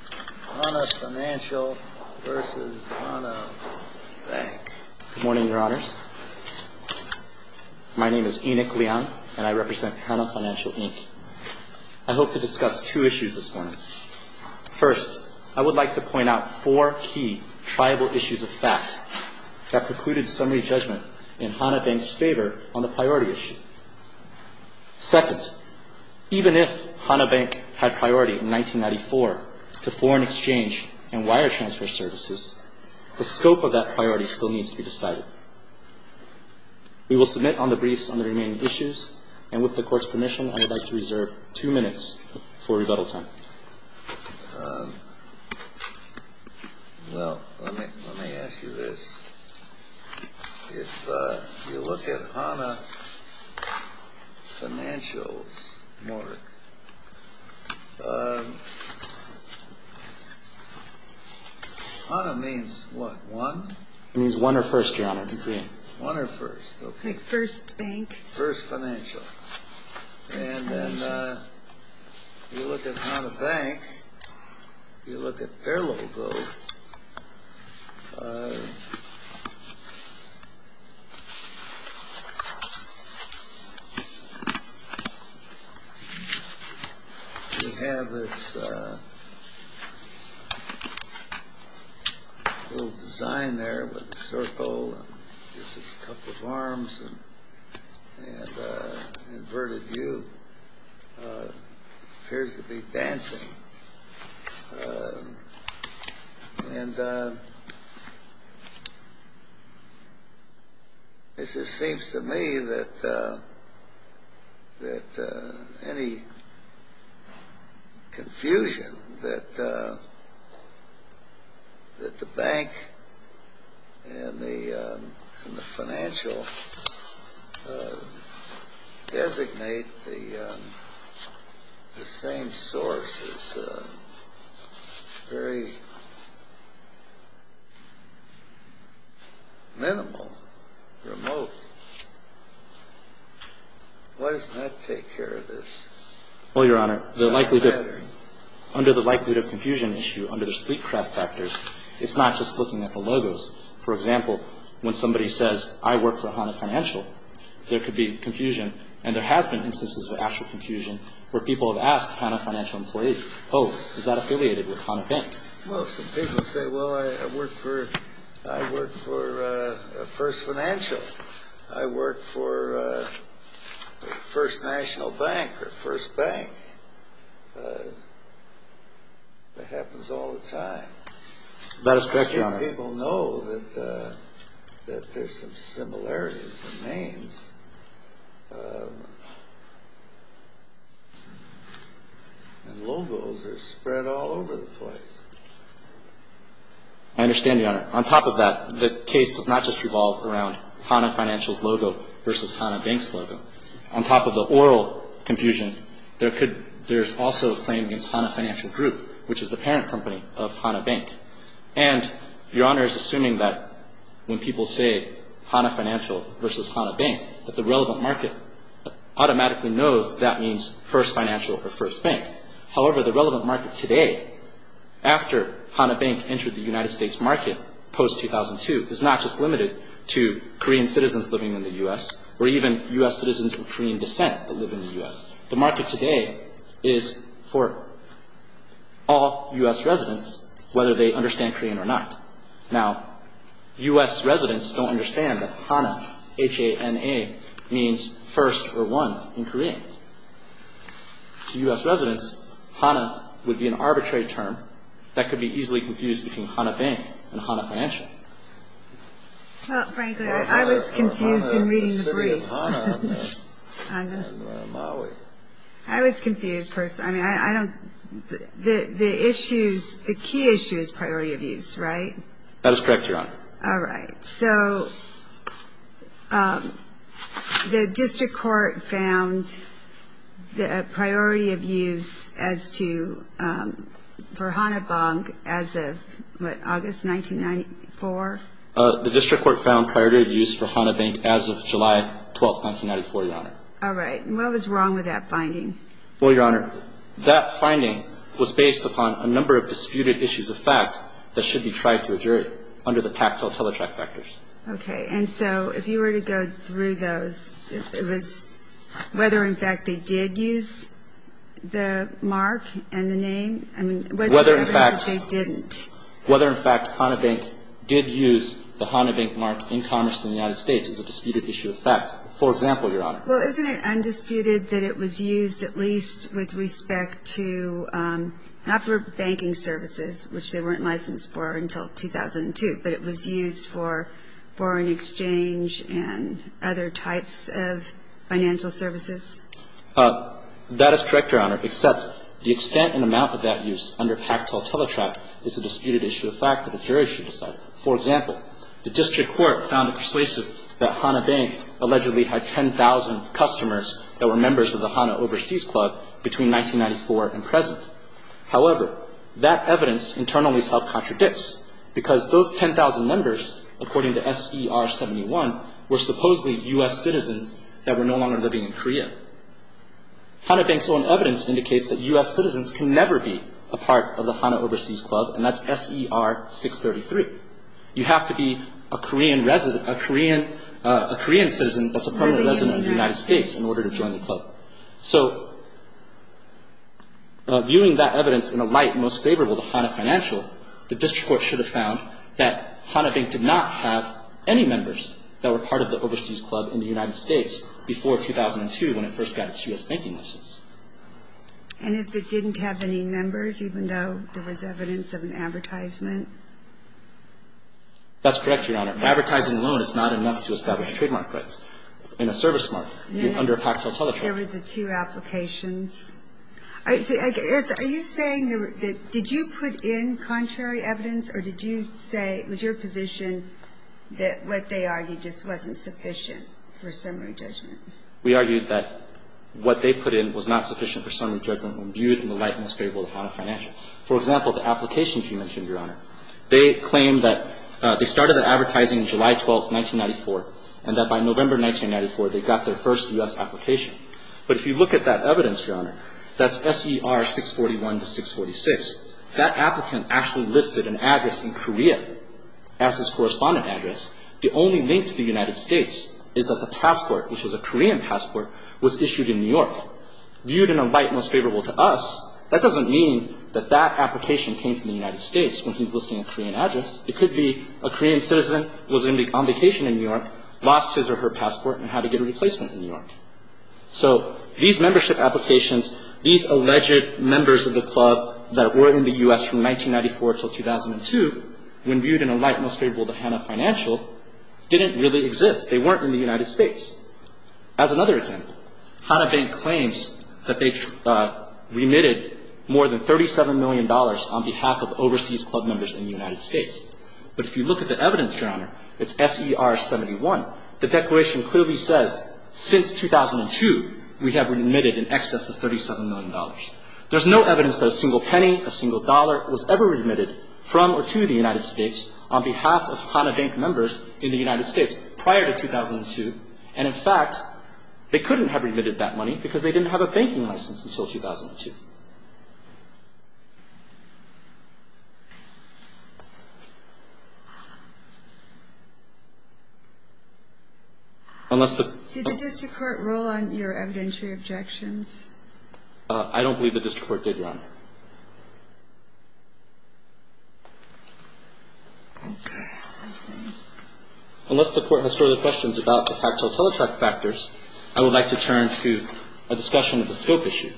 Hana Financial, Inc. v. Hana Bank Good morning, Your Honors. My name is Enoch Leung, and I represent Hana Financial, Inc. I hope to discuss two issues this morning. First, I would like to point out four key tribal issues of fact that precluded summary judgment in Hana Bank's favor on the priority issue. Second, even if Hana Bank had priority in 1994 to foreign exchange and wire transfer services, the scope of that priority still needs to be decided. We will submit on the briefs on the remaining issues, and with the Court's permission, I would like to reserve two minutes for rebuttal time. Well, let me ask you this. If you look at Hana Financial's mark, Hana means what, one? It means one or first, Your Honor. One or first, okay. First bank. First financial. And then you look at Hana Bank, you look at their logo. We have this little design there with a circle, and this is Cup of Arms, and Inverted U appears to be dancing. And it just seems to me that any confusion, that the bank and the financial designate the same sources. It's very minimal, remote. Why doesn't that take care of this? Well, Your Honor, the likelihood of confusion issue under the sleep craft factors, it's not just looking at the logos. For example, when somebody says, I work for Hana Financial, there could be confusion, and there has been instances of actual confusion where people have asked Hana Financial employees, oh, is that affiliated with Hana Bank? Well, some people say, well, I work for First Financial. I work for First National Bank or First Bank. That happens all the time. That is correct, Your Honor. People know that there's some similarities in names. And logos are spread all over the place. I understand, Your Honor. On top of that, the case does not just revolve around Hana Financial's logo versus Hana Bank's logo. On top of the oral confusion, there's also a claim against Hana Financial Group, which is the parent company of Hana Bank. And Your Honor is assuming that when people say Hana Financial versus Hana Bank, that the relevant market automatically knows that that means First Financial or First Bank. However, the relevant market today, after Hana Bank entered the United States market post-2002, is not just limited to Korean citizens living in the U.S. or even U.S. citizens of Korean descent that live in the U.S. The market today is for all U.S. residents, whether they understand Korean or not. Now, U.S. residents don't understand that Hana, H-A-N-A, means first or one in Korean. To U.S. residents, Hana would be an arbitrary term that could be easily confused between Hana Bank and Hana Financial. Well, frankly, I was confused in reading the briefs. I was confused. I mean, I don't – the issues – the key issue is priority of use, right? That is correct, Your Honor. All right. So the district court found the priority of use as to – for Hana Bank as of, what, August 1994? The district court found priority of use for Hana Bank as of July 12, 1994, Your Honor. All right. And what was wrong with that finding? Well, Your Honor, that finding was based upon a number of disputed issues of fact that should be tried to a jury under the tactile teletrack factors. Okay. And so if you were to go through those, it was whether, in fact, they did use the mark and the name. I mean, what's the difference that they didn't? Whether, in fact, Hana Bank did use the Hana Bank mark in Congress in the United States is a disputed issue of fact. For example, Your Honor. Well, isn't it undisputed that it was used at least with respect to – not for banking services, which they weren't licensed for until 2002, but it was used for foreign exchange and other types of financial services? That is correct, Your Honor, except the extent and amount of that use under tactile teletrack is a disputed issue of fact that a jury should decide. For example, the district court found it persuasive that Hana Bank allegedly had 10,000 customers that were members of the Hana Overseas Club between 1994 and present. However, that evidence internally self-contradicts because those 10,000 members, according to S.E.R. 71, were supposedly U.S. citizens that were no longer living in Korea. Hana Bank's own evidence indicates that U.S. citizens can never be a part of the Hana Overseas Club, and that's S.E.R. 633. You have to be a Korean citizen that's a permanent resident of the United States in order to join the club. So viewing that evidence in a light most favorable to Hana Financial, the district court should have found that Hana Bank did not have any members that were part of the Overseas Club in the United States before 2002 when it first got its U.S. banking license. And if it didn't have any members, even though there was evidence of an advertisement? That's correct, Your Honor. Advertising alone is not enough to establish trademark rights. In a service market, under a pactual teletrauma. There were the two applications. Are you saying that did you put in contrary evidence, or did you say it was your position that what they argued just wasn't sufficient for summary judgment? We argued that what they put in was not sufficient for summary judgment when viewed in the light most favorable to Hana Financial. For example, the applications you mentioned, Your Honor. They claim that they started the advertising July 12, 1994, and that by November 1994, they got their first U.S. application. But if you look at that evidence, Your Honor, that's SER 641 to 646. That applicant actually listed an address in Korea as his correspondent address. The only link to the United States is that the passport, which was a Korean passport, was issued in New York. Viewed in a light most favorable to us, that doesn't mean that that application came from the United States when he's listing a Korean address. It could be a Korean citizen was on vacation in New York, lost his or her passport, and had to get a replacement in New York. So these membership applications, these alleged members of the club that were in the U.S. from 1994 until 2002, when viewed in a light most favorable to Hana Financial, didn't really exist. They weren't in the United States. As another example, Hana Bank claims that they remitted more than $37 million on behalf of overseas club members in the United States. But if you look at the evidence, Your Honor, it's SER 71. The declaration clearly says since 2002, we have remitted in excess of $37 million. There's no evidence that a single penny, a single dollar was ever remitted from or to the United States on behalf of Hana Bank members in the United States prior to 2002. And, in fact, they couldn't have remitted that money because they didn't have a banking license until 2002. Unless the — Did the district court rule on your evidentiary objections? I don't believe the district court did, Your Honor. Okay. Unless the court has further questions about the factual teletrack factors, I would like to turn to a discussion of the scope issue.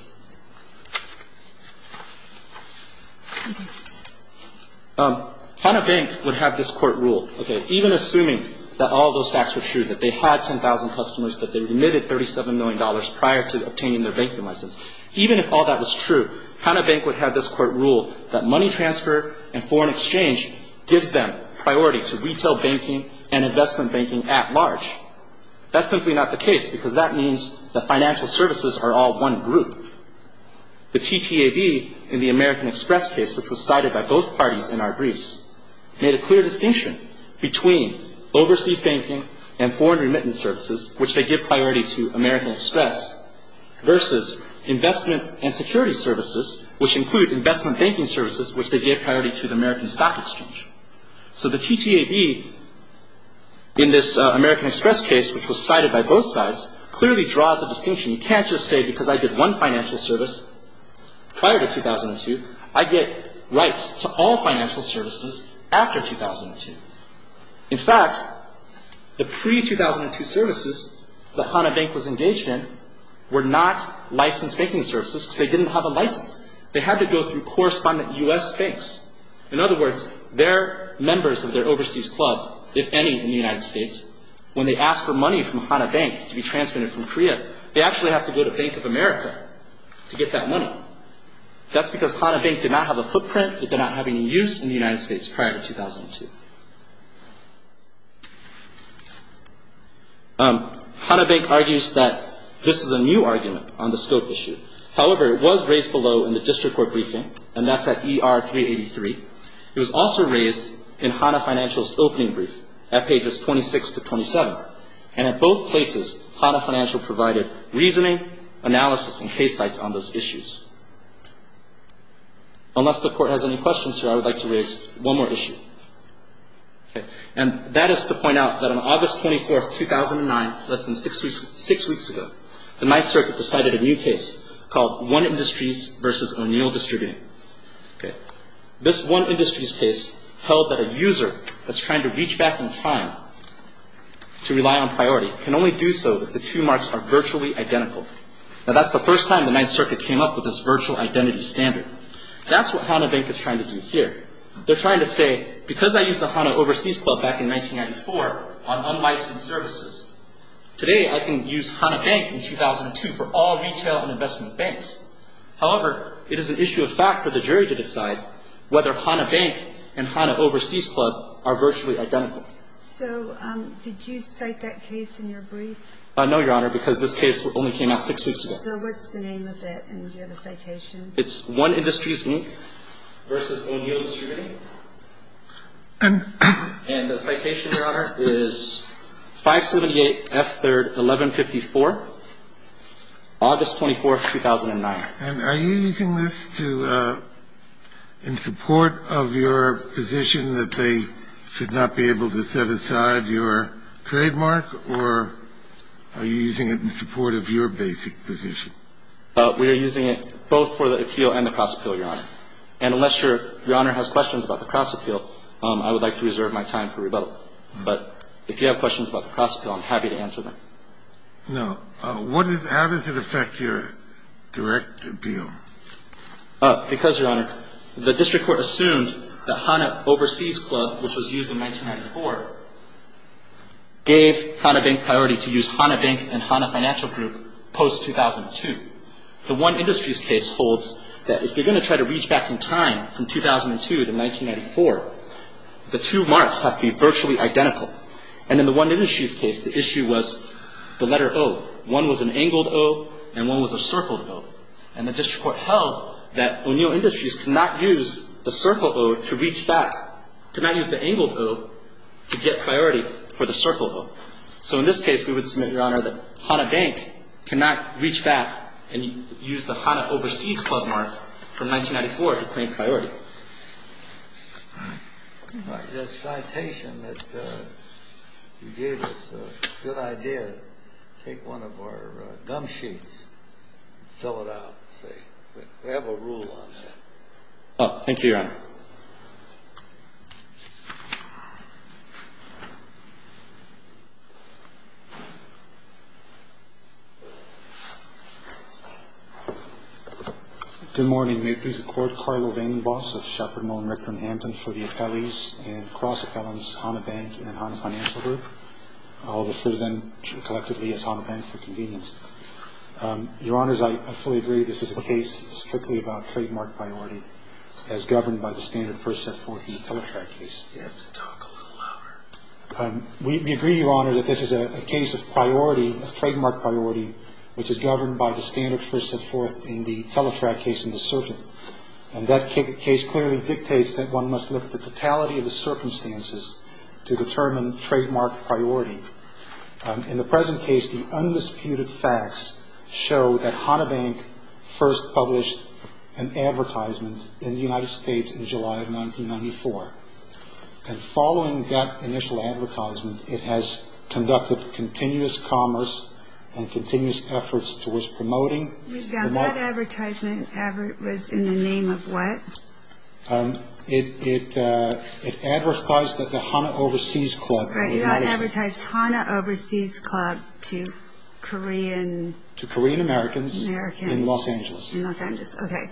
Hana Bank would have this court rule, okay, even assuming that all those facts were true, that they had 10,000 customers, that they remitted $37 million prior to obtaining their banking license, even if all that was true, Hana Bank would have this court rule that money transfer and foreign exchange gives them priority to retail banking and investment banking at large. That's simply not the case because that means the financial services are all one group. The TTAB in the American Express case, which was cited by both parties in our briefs, made a clear distinction between overseas banking and foreign remittance services, which they give priority to American Express, versus investment and security services, which include investment banking services, which they give priority to the American Stock Exchange. So the TTAB in this American Express case, which was cited by both sides, clearly draws a distinction. You can't just say because I did one financial service prior to 2002, I get rights to all financial services after 2002. In fact, the pre-2002 services that Hana Bank was engaged in were not licensed banking services because they didn't have a license. They had to go through correspondent U.S. banks. In other words, they're members of their overseas clubs, if any, in the United States. When they ask for money from Hana Bank to be transmitted from Korea, they actually have to go to Bank of America to get that money. That's because Hana Bank did not have a footprint. It did not have any use in the United States prior to 2002. Hana Bank argues that this is a new argument on the scope issue. However, it was raised below in the district court briefing, and that's at ER 383. It was also raised in Hana Financial's opening brief at pages 26 to 27. And at both places, Hana Financial provided reasoning, analysis, and case sites on those issues. Unless the Court has any questions here, I would like to raise one more issue. And that is to point out that on August 24, 2009, less than six weeks ago, the Ninth Circuit decided a new case called One Industries v. O'Neill Distributing. This One Industries case held that a user that's trying to reach back in time to rely on priority can only do so if the two marks are virtually identical. Now, that's the first time the Ninth Circuit came up with this virtual identity standard. That's what Hana Bank is trying to do here. They're trying to say, because I used the Hana Overseas Club back in 1994 on unlicensed services, today I can use Hana Bank in 2002 for all retail and investment banks. However, it is an issue of fact for the jury to decide whether Hana Bank and Hana Overseas Club are virtually identical. So did you cite that case in your brief? No, Your Honor, because this case only came out six weeks ago. So what's the name of it, and do you have a citation? It's One Industries Ninth v. O'Neill Distributing. And the citation, Your Honor, is 578 F. 3rd, 1154, August 24th, 2009. And are you using this in support of your position that they should not be able to set aside your trademark, or are you using it in support of your basic position? We are using it both for the appeal and the cross-appeal, Your Honor. And unless Your Honor has questions about the cross-appeal, I would like to reserve my time for rebuttal. But if you have questions about the cross-appeal, I'm happy to answer them. No. How does it affect your direct appeal? Because, Your Honor, the district court assumed that Hana Overseas Club, which was used in 1994, gave Hana Bank priority to use Hana Bank and Hana Financial Group post-2002. The One Industries case holds that if you're going to try to reach back in time from 2002 to 1994, the two marks have to be virtually identical. And in the One Industries case, the issue was the letter O. One was an angled O and one was a circled O. And the district court held that O'Neill Industries could not use the circle O to reach back, could not use the angled O to get priority for the circle O. So in this case, we would submit, Your Honor, that Hana Bank cannot reach back and use the Hana Overseas Club mark from 1994 to claim priority. All right. The citation that you gave us, a good idea to take one of our gum sheets and fill it out and say, we have a rule on that. Oh, thank you, Your Honor. Good morning. May it please the Court. Carlo VandenBos of Sheppard, Moen, Ricker, and Hampton for the appellees and cross-appellants Hana Bank and Hana Financial Group. I'll refer to them collectively as Hana Bank for convenience. Your Honors, I fully agree this is a case strictly about trademark priority as governed by the law. You have to talk a little louder. We agree, Your Honor, that this is a case of priority, of trademark priority, which is governed by the standard first and fourth in the teletrack case in the circuit. And that case clearly dictates that one must look at the totality of the circumstances to determine trademark priority. In the present case, the undisputed facts show that Hana Bank first published an advertisement in the United States in July of 1994. And following that initial advertisement, it has conducted continuous commerce and continuous efforts towards promoting. That advertisement was in the name of what? It advertised that the Hana Overseas Club. Right, it advertised Hana Overseas Club to Korean Americans in Los Angeles. In Los Angeles, okay.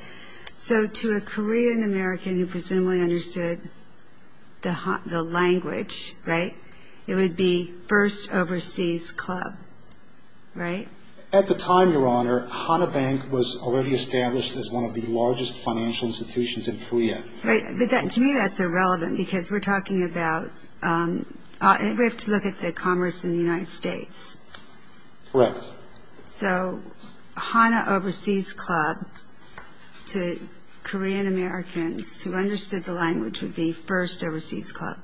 So to a Korean American who presumably understood the language, right, it would be First Overseas Club, right? At the time, Your Honor, Hana Bank was already established as one of the largest financial institutions in Korea. Right, but to me that's irrelevant because we're talking about, we have to look at the commerce in the United States. Correct. So Hana Overseas Club to Korean Americans who understood the language would be First Overseas Club.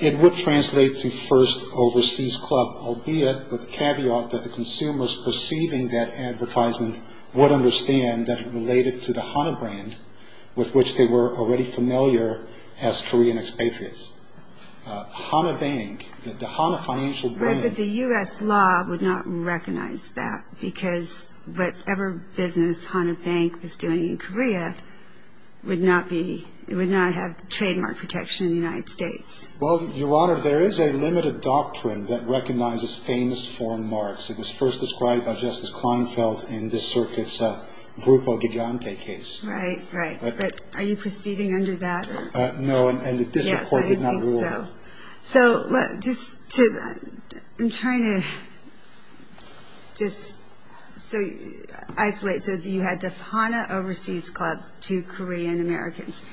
It would translate to First Overseas Club, albeit with caveat that the consumers perceiving that advertisement would understand that it related to the Hana brand with which they were already familiar as Korean expatriates. Hana Bank, the Hana financial brand. But the U.S. law would not recognize that because whatever business Hana Bank was doing in Korea would not be, it would not have trademark protection in the United States. Well, Your Honor, there is a limited doctrine that recognizes famous foreign marks. It was first described by Justice Kleinfeld in this circuit's Grupo Gigante case. Right, right. But are you proceeding under that? Yes, I think so. So just to, I'm trying to just isolate. So you had the Hana Overseas Club to Korean Americans.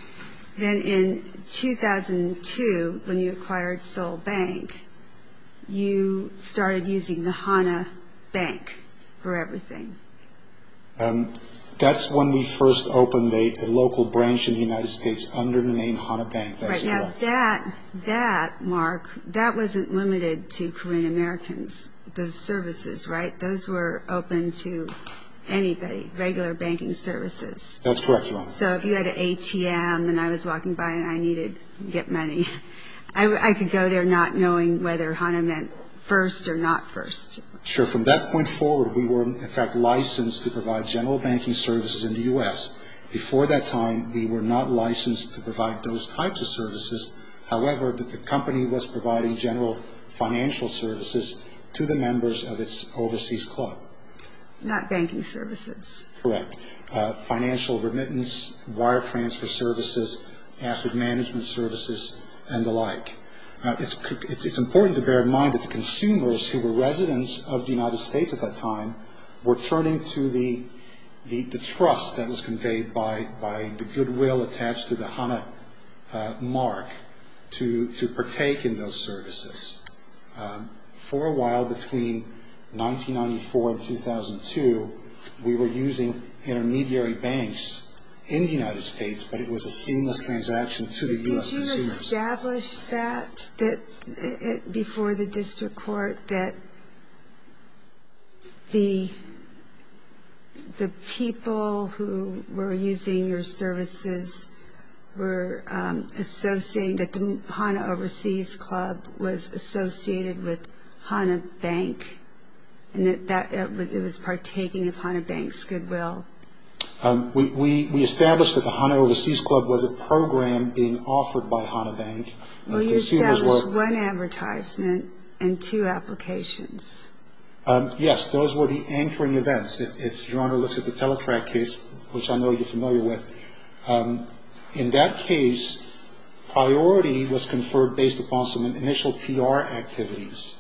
Then in 2002 when you acquired Seoul Bank, you started using the Hana Bank for everything. That's when we first opened a local branch in the United States under the name Hana Bank. Right. Now that, Mark, that wasn't limited to Korean Americans, those services, right? Those were open to anybody, regular banking services. That's correct, Your Honor. So if you had an ATM and I was walking by and I needed to get money, I could go there not knowing whether Hana meant first or not first. Sure. From that point forward, we were in fact licensed to provide general banking services in the U.S. Before that time, we were not licensed to provide those types of services. However, the company was providing general financial services to the members of its overseas club. Not banking services. Correct. Financial remittance, wire transfer services, asset management services, and the like. It's important to bear in mind that the consumers who were residents of the United States at that time were turning to the trust that was conveyed by the goodwill attached to the Hana mark to partake in those services. For a while between 1994 and 2002, we were using intermediary banks in the United States, but it was a seamless transaction to the U.S. consumers. Did you establish that before the district court that the people who were using your services were associated, that the Hana Overseas Club was associated with Hana Bank and that it was partaking of Hana Bank's goodwill? We established that the Hana Overseas Club was a program being offered by Hana Bank. Well, you established one advertisement and two applications. Yes. Those were the anchoring events, if Your Honor looks at the Teletrac case, which I know you're familiar with. In that case, priority was conferred based upon some initial PR activities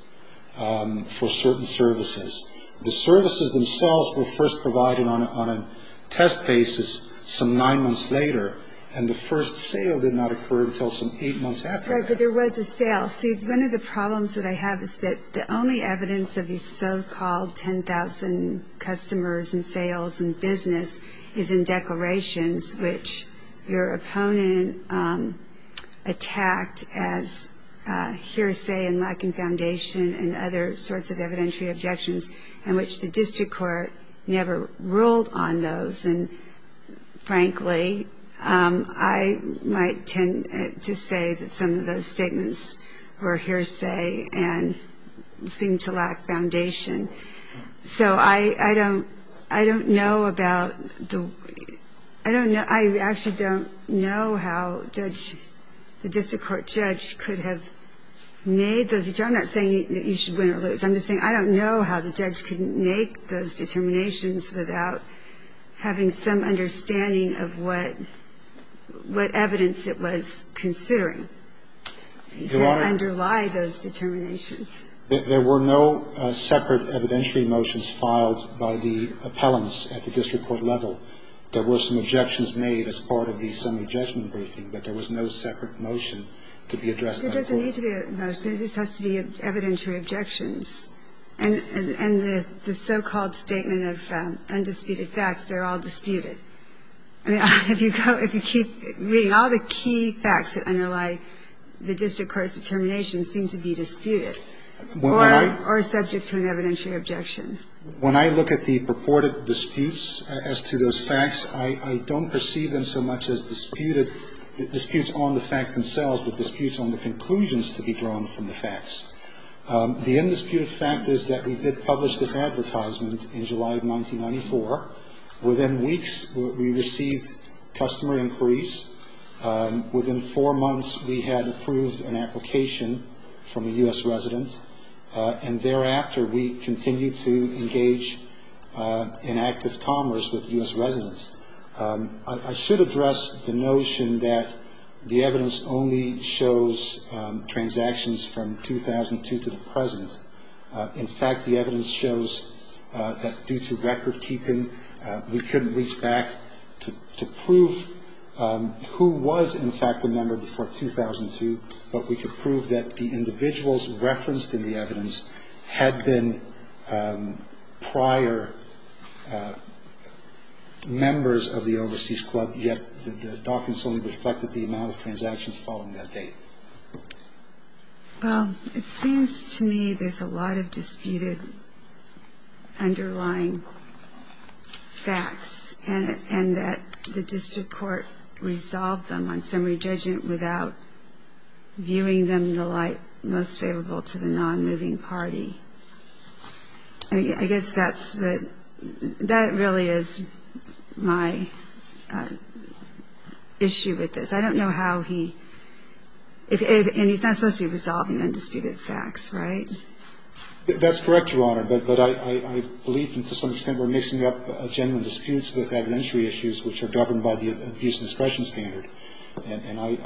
for certain services. The services themselves were first provided on a test basis some nine months later, and the first sale did not occur until some eight months after that. Right, but there was a sale. See, one of the problems that I have is that the only evidence of these so-called 10,000 customers and sales and business is in declarations, which your opponent attacked as hearsay and lacking foundation and other sorts of evidentiary objections, and which the district court never ruled on those. And, frankly, I might tend to say that some of those statements were hearsay and seemed to lack foundation. So I don't know about the – I don't know – I actually don't know how the district court judge could have made those – I'm not saying that you should win or lose. I'm just saying I don't know how the judge could make those determinations without having some understanding of what evidence it was considering to underlie those determinations. There were no separate evidentiary motions filed by the appellants at the district court level. There were some objections made as part of the summary judgment briefing, but there was no separate motion to be addressed by the court. There doesn't need to be a motion. It just has to be evidentiary objections. And the so-called statement of undisputed facts, they're all disputed. I mean, if you keep reading, all the key facts that underlie the district court's determination seem to be disputed or subject to an evidentiary objection. When I look at the purported disputes as to those facts, I don't perceive them so much as disputed, disputes on the facts themselves, but disputes on the conclusions to be drawn from the facts. The undisputed fact is that we did publish this advertisement in July of 1994. Within weeks, we received customer inquiries. Within four months, we had approved an application from a U.S. resident, and thereafter we continued to engage in active commerce with U.S. residents. I should address the notion that the evidence only shows transactions from 2002 to the present. In fact, the evidence shows that due to record keeping, we couldn't reach back to prove who was, in fact, a member before 2002, but we could prove that the individuals referenced in the evidence had been prior members of the overseas club, yet the documents only reflected the amount of transactions following that date. Well, it seems to me there's a lot of disputed underlying facts, and that the district court resolved them on summary judgment without viewing them in the light most favorable to the nonmoving party. I guess that's the – that really is my issue with this. I don't know how he – and he's not supposed to be resolving undisputed facts, right? That's correct, Your Honor, but I believe to some extent we're mixing up genuine disputes with evidentiary issues which are governed by the abuse discretion standard, and I'm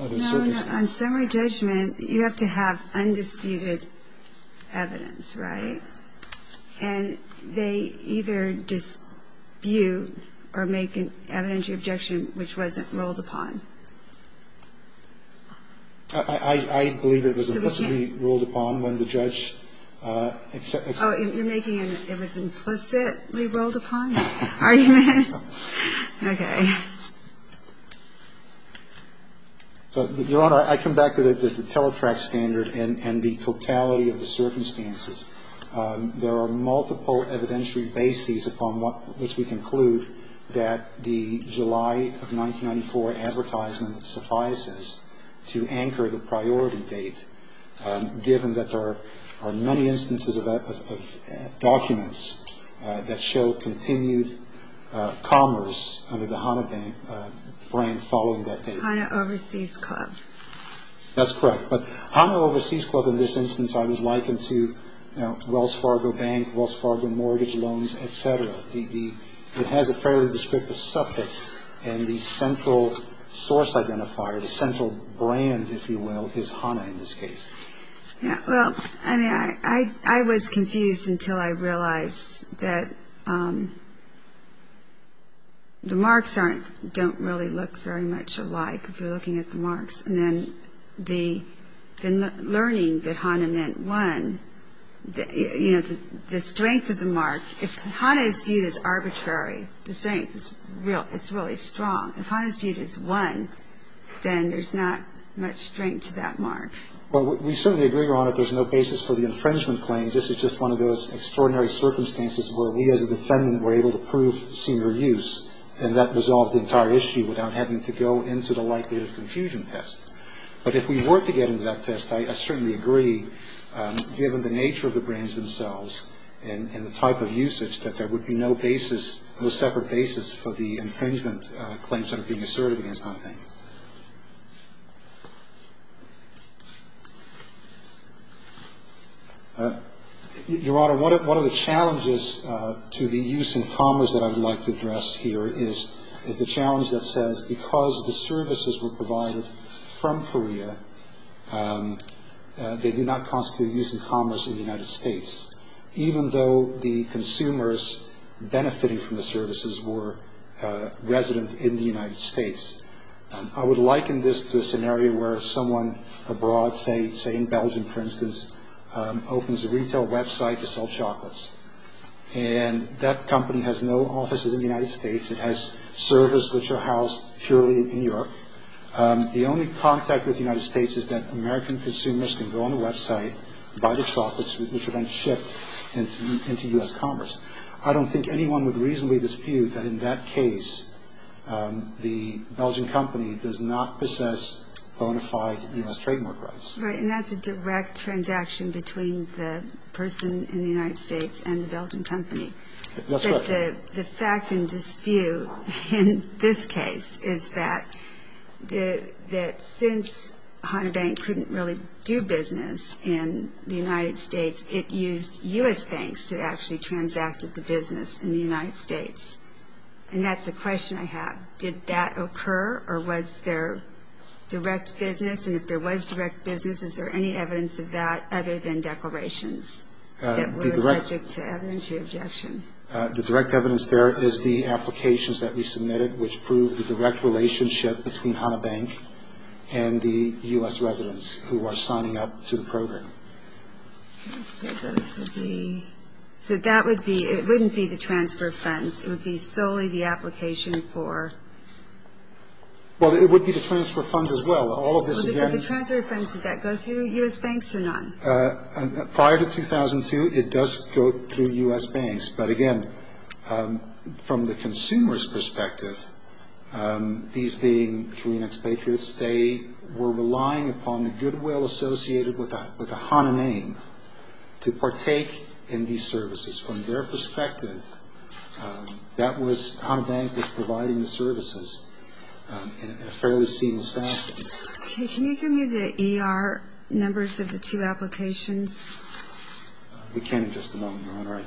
uncertain. No, no, on summary judgment, you have to have undisputed evidence, right? And they either dispute or make an evidentiary objection which wasn't ruled upon. I believe it was implicitly ruled upon when the judge – Oh, you're making an it was implicitly ruled upon argument? Okay. So, Your Honor, I come back to the teletract standard and the totality of the circumstances there are multiple evidentiary bases upon which we conclude that the July of 1994 advertisement suffices to anchor the priority date, given that there are many instances of documents that show continued commerce under the HANA brand following that date. HANA Overseas Club. That's correct. But HANA Overseas Club in this instance I would liken to, you know, Wells Fargo Bank, Wells Fargo Mortgage Loans, et cetera. It has a fairly descriptive suffix, and the central source identifier, the central brand, if you will, is HANA in this case. Yeah, well, I mean, I was confused until I realized that the marks don't really look very much alike if you're looking at the marks. And then the learning that HANA meant one, you know, the strength of the mark, if HANA is viewed as arbitrary, the strength is really strong. If HANA is viewed as one, then there's not much strength to that mark. Well, we certainly agree, Your Honor, that there's no basis for the infringement claim. This is just one of those extraordinary circumstances where we as a defendant were able to prove senior use, and that resolved the entire issue without having to go into the likelihood of confusion test. But if we were to get into that test, I certainly agree, given the nature of the brands themselves and the type of usage, that there would be no basis, no separate basis for the infringement claims that are being asserted against HANA Bank. Your Honor, one of the challenges to the use in commerce that I would like to address here is the challenge that says because the services were provided from Korea, they do not constitute use in commerce in the United States, even though the consumers benefiting from the services were residents in the United States. I would liken this to a scenario where someone abroad, say in Belgium, for instance, opens a retail website to sell chocolates, and that company has no offices in the United States. It has servers which are housed purely in Europe. The only contact with the United States is that American consumers can go on the website, buy the chocolates, which are then shipped into U.S. commerce. I don't think anyone would reasonably dispute that in that case, the Belgian company does not possess bona fide U.S. trademark rights. Right, and that's a direct transaction between the person in the United States and the Belgian company. That's right. But the fact in dispute in this case is that since HANA Bank couldn't really do business in the United States, it used U.S. banks that actually transacted the business in the United States. And that's a question I have. Did that occur, or was there direct business? And if there was direct business, is there any evidence of that other than declarations that were subject to objection? The direct evidence there is the applications that we submitted, which proved the direct relationship between HANA Bank and the U.S. residents who are signing up to the program. So that would be, it wouldn't be the transfer of funds. It would be solely the application for. Well, it would be the transfer of funds as well. All of this again. The transfer of funds, did that go through U.S. banks or not? Prior to 2002, it does go through U.S. banks. But, again, from the consumer's perspective, these being Korean expatriates, they were relying upon the goodwill associated with the HANA name to partake in these services. From their perspective, that was, HANA Bank was providing the services in a fairly seamless fashion. Okay. Can you give me the ER numbers of the two applications? We can in just a moment, Your Honor. All right.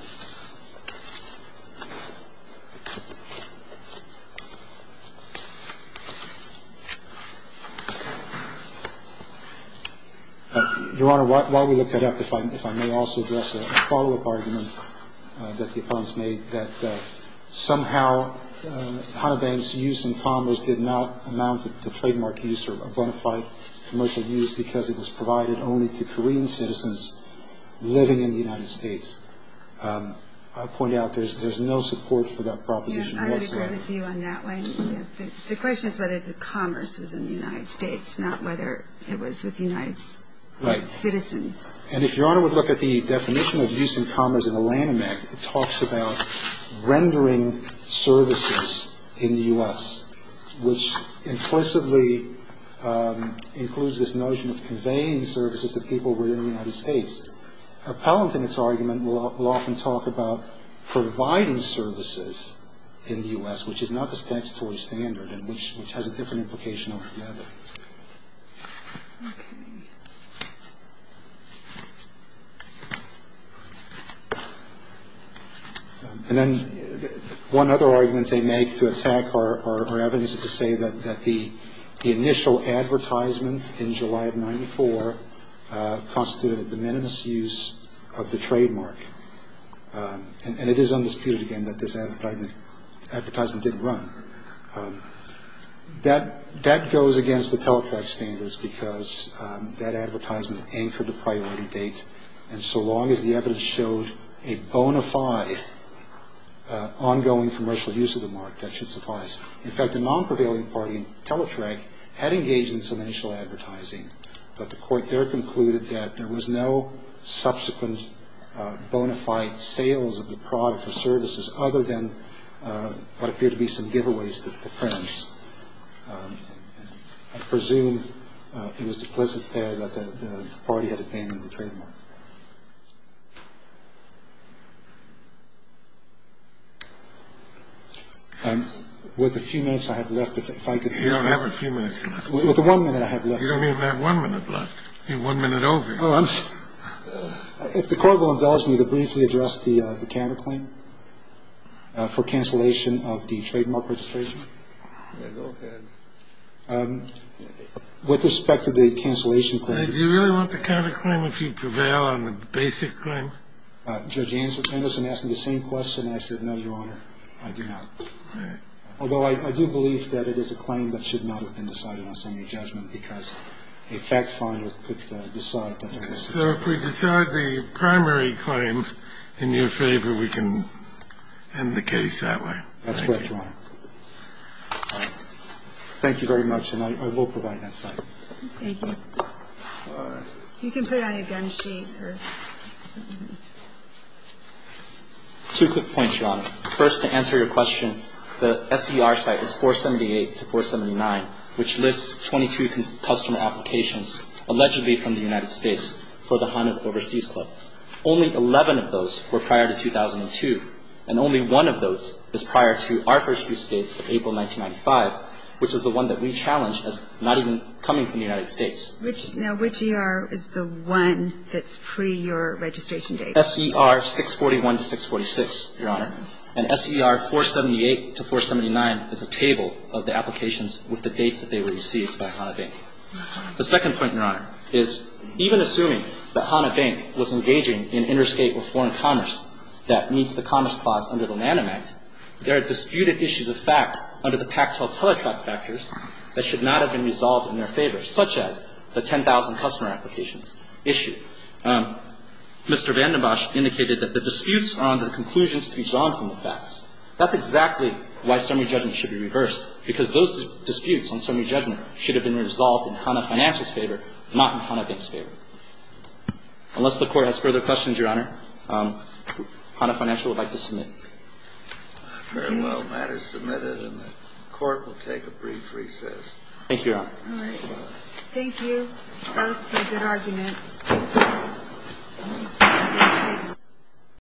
Your Honor, while we look that up, if I may also address a follow-up argument that the opponents made, that somehow HANA Bank's use in commerce did not amount to trademark use or bona fide commercial use because it was provided only to Korean citizens living in the United States. I'll point out there's no support for that proposition whatsoever. I would agree with you on that one. The question is whether the commerce was in the United States, not whether it was with United States citizens. Right. And if Your Honor would look at the definition of use in commerce in the Lanham Act, it talks about rendering services in the U.S., which implicitly includes this notion of conveying services to people within the United States. Appellant in its argument will often talk about providing services in the U.S., which is not the statutory standard and which has a different implication altogether. Okay. And then one other argument they make to attack our evidence is to say that the initial advertisement in July of 1994 constituted a de minimis use of the trademark. And it is undisputed, again, that this advertisement didn't run. That goes against the Teletrek standards because that advertisement anchored a priority date, and so long as the evidence showed a bona fide ongoing commercial use of the mark, that should suffice. In fact, the non-prevailing party in Teletrek had engaged in some initial advertising, but the court there concluded that there was no subsequent bona fide sales of the product or services other than what appeared to be some giveaways to friends. I presume it was implicit there that the party had abandoned the trademark. With the few minutes I have left, if I could be brief. You don't have a few minutes left. With the one minute I have left. You don't even have one minute left. You're one minute over. Oh, I'm sorry. If the Court will indulge me to briefly address the counterclaim for cancellation of the trademark registration. Go ahead. With respect to the cancellation claim. Do you really want the counterclaim if you prevail on the basic claim? Judge Anderson asked me the same question. I said, no, Your Honor, I do not. All right. Would that be your recommendation, because a fact finder could decide that it will such a child. So if we decide the primary claim in your favor, we can end the case that way. That's correct, Your Honor. Thank you very much, and I will provide that site. Thank you. You can put it on your gun sheet. Two quick points, Your Honor. First, to answer your question, the SER site is 478 to 479, which lists 22 customer applications, allegedly from the United States, for the Hanna's Overseas Club. Only 11 of those were prior to 2002, and only one of those is prior to our first interstate of April 1995, which is the one that we challenge as not even coming from the United States. Now, which ER is the one that's pre-your registration date? SER 641 to 646, Your Honor. And SER 478 to 479 is a table of the applications with the dates that they were received by Hanna Bank. The second point, Your Honor, is even assuming that Hanna Bank was engaging in interstate or foreign commerce that meets the Commerce Clause under the NANIM Act, there are disputed issues of fact under the tactile teletrack factors that should not have been resolved in their favor, such as the 10,000 customer applications issue. Mr. VandenBosch indicated that the disputes are under the conclusions to be drawn from the facts. That's exactly why summary judgment should be reversed, because those disputes on summary judgment should have been resolved in Hanna Financial's favor, not in Hanna Bank's favor. Unless the Court has further questions, Your Honor, Hanna Financial would like to submit. Very well. The matter is submitted, and the Court will take a brief recess. Thank you, Your Honor. All right. Thank you both for a good argument.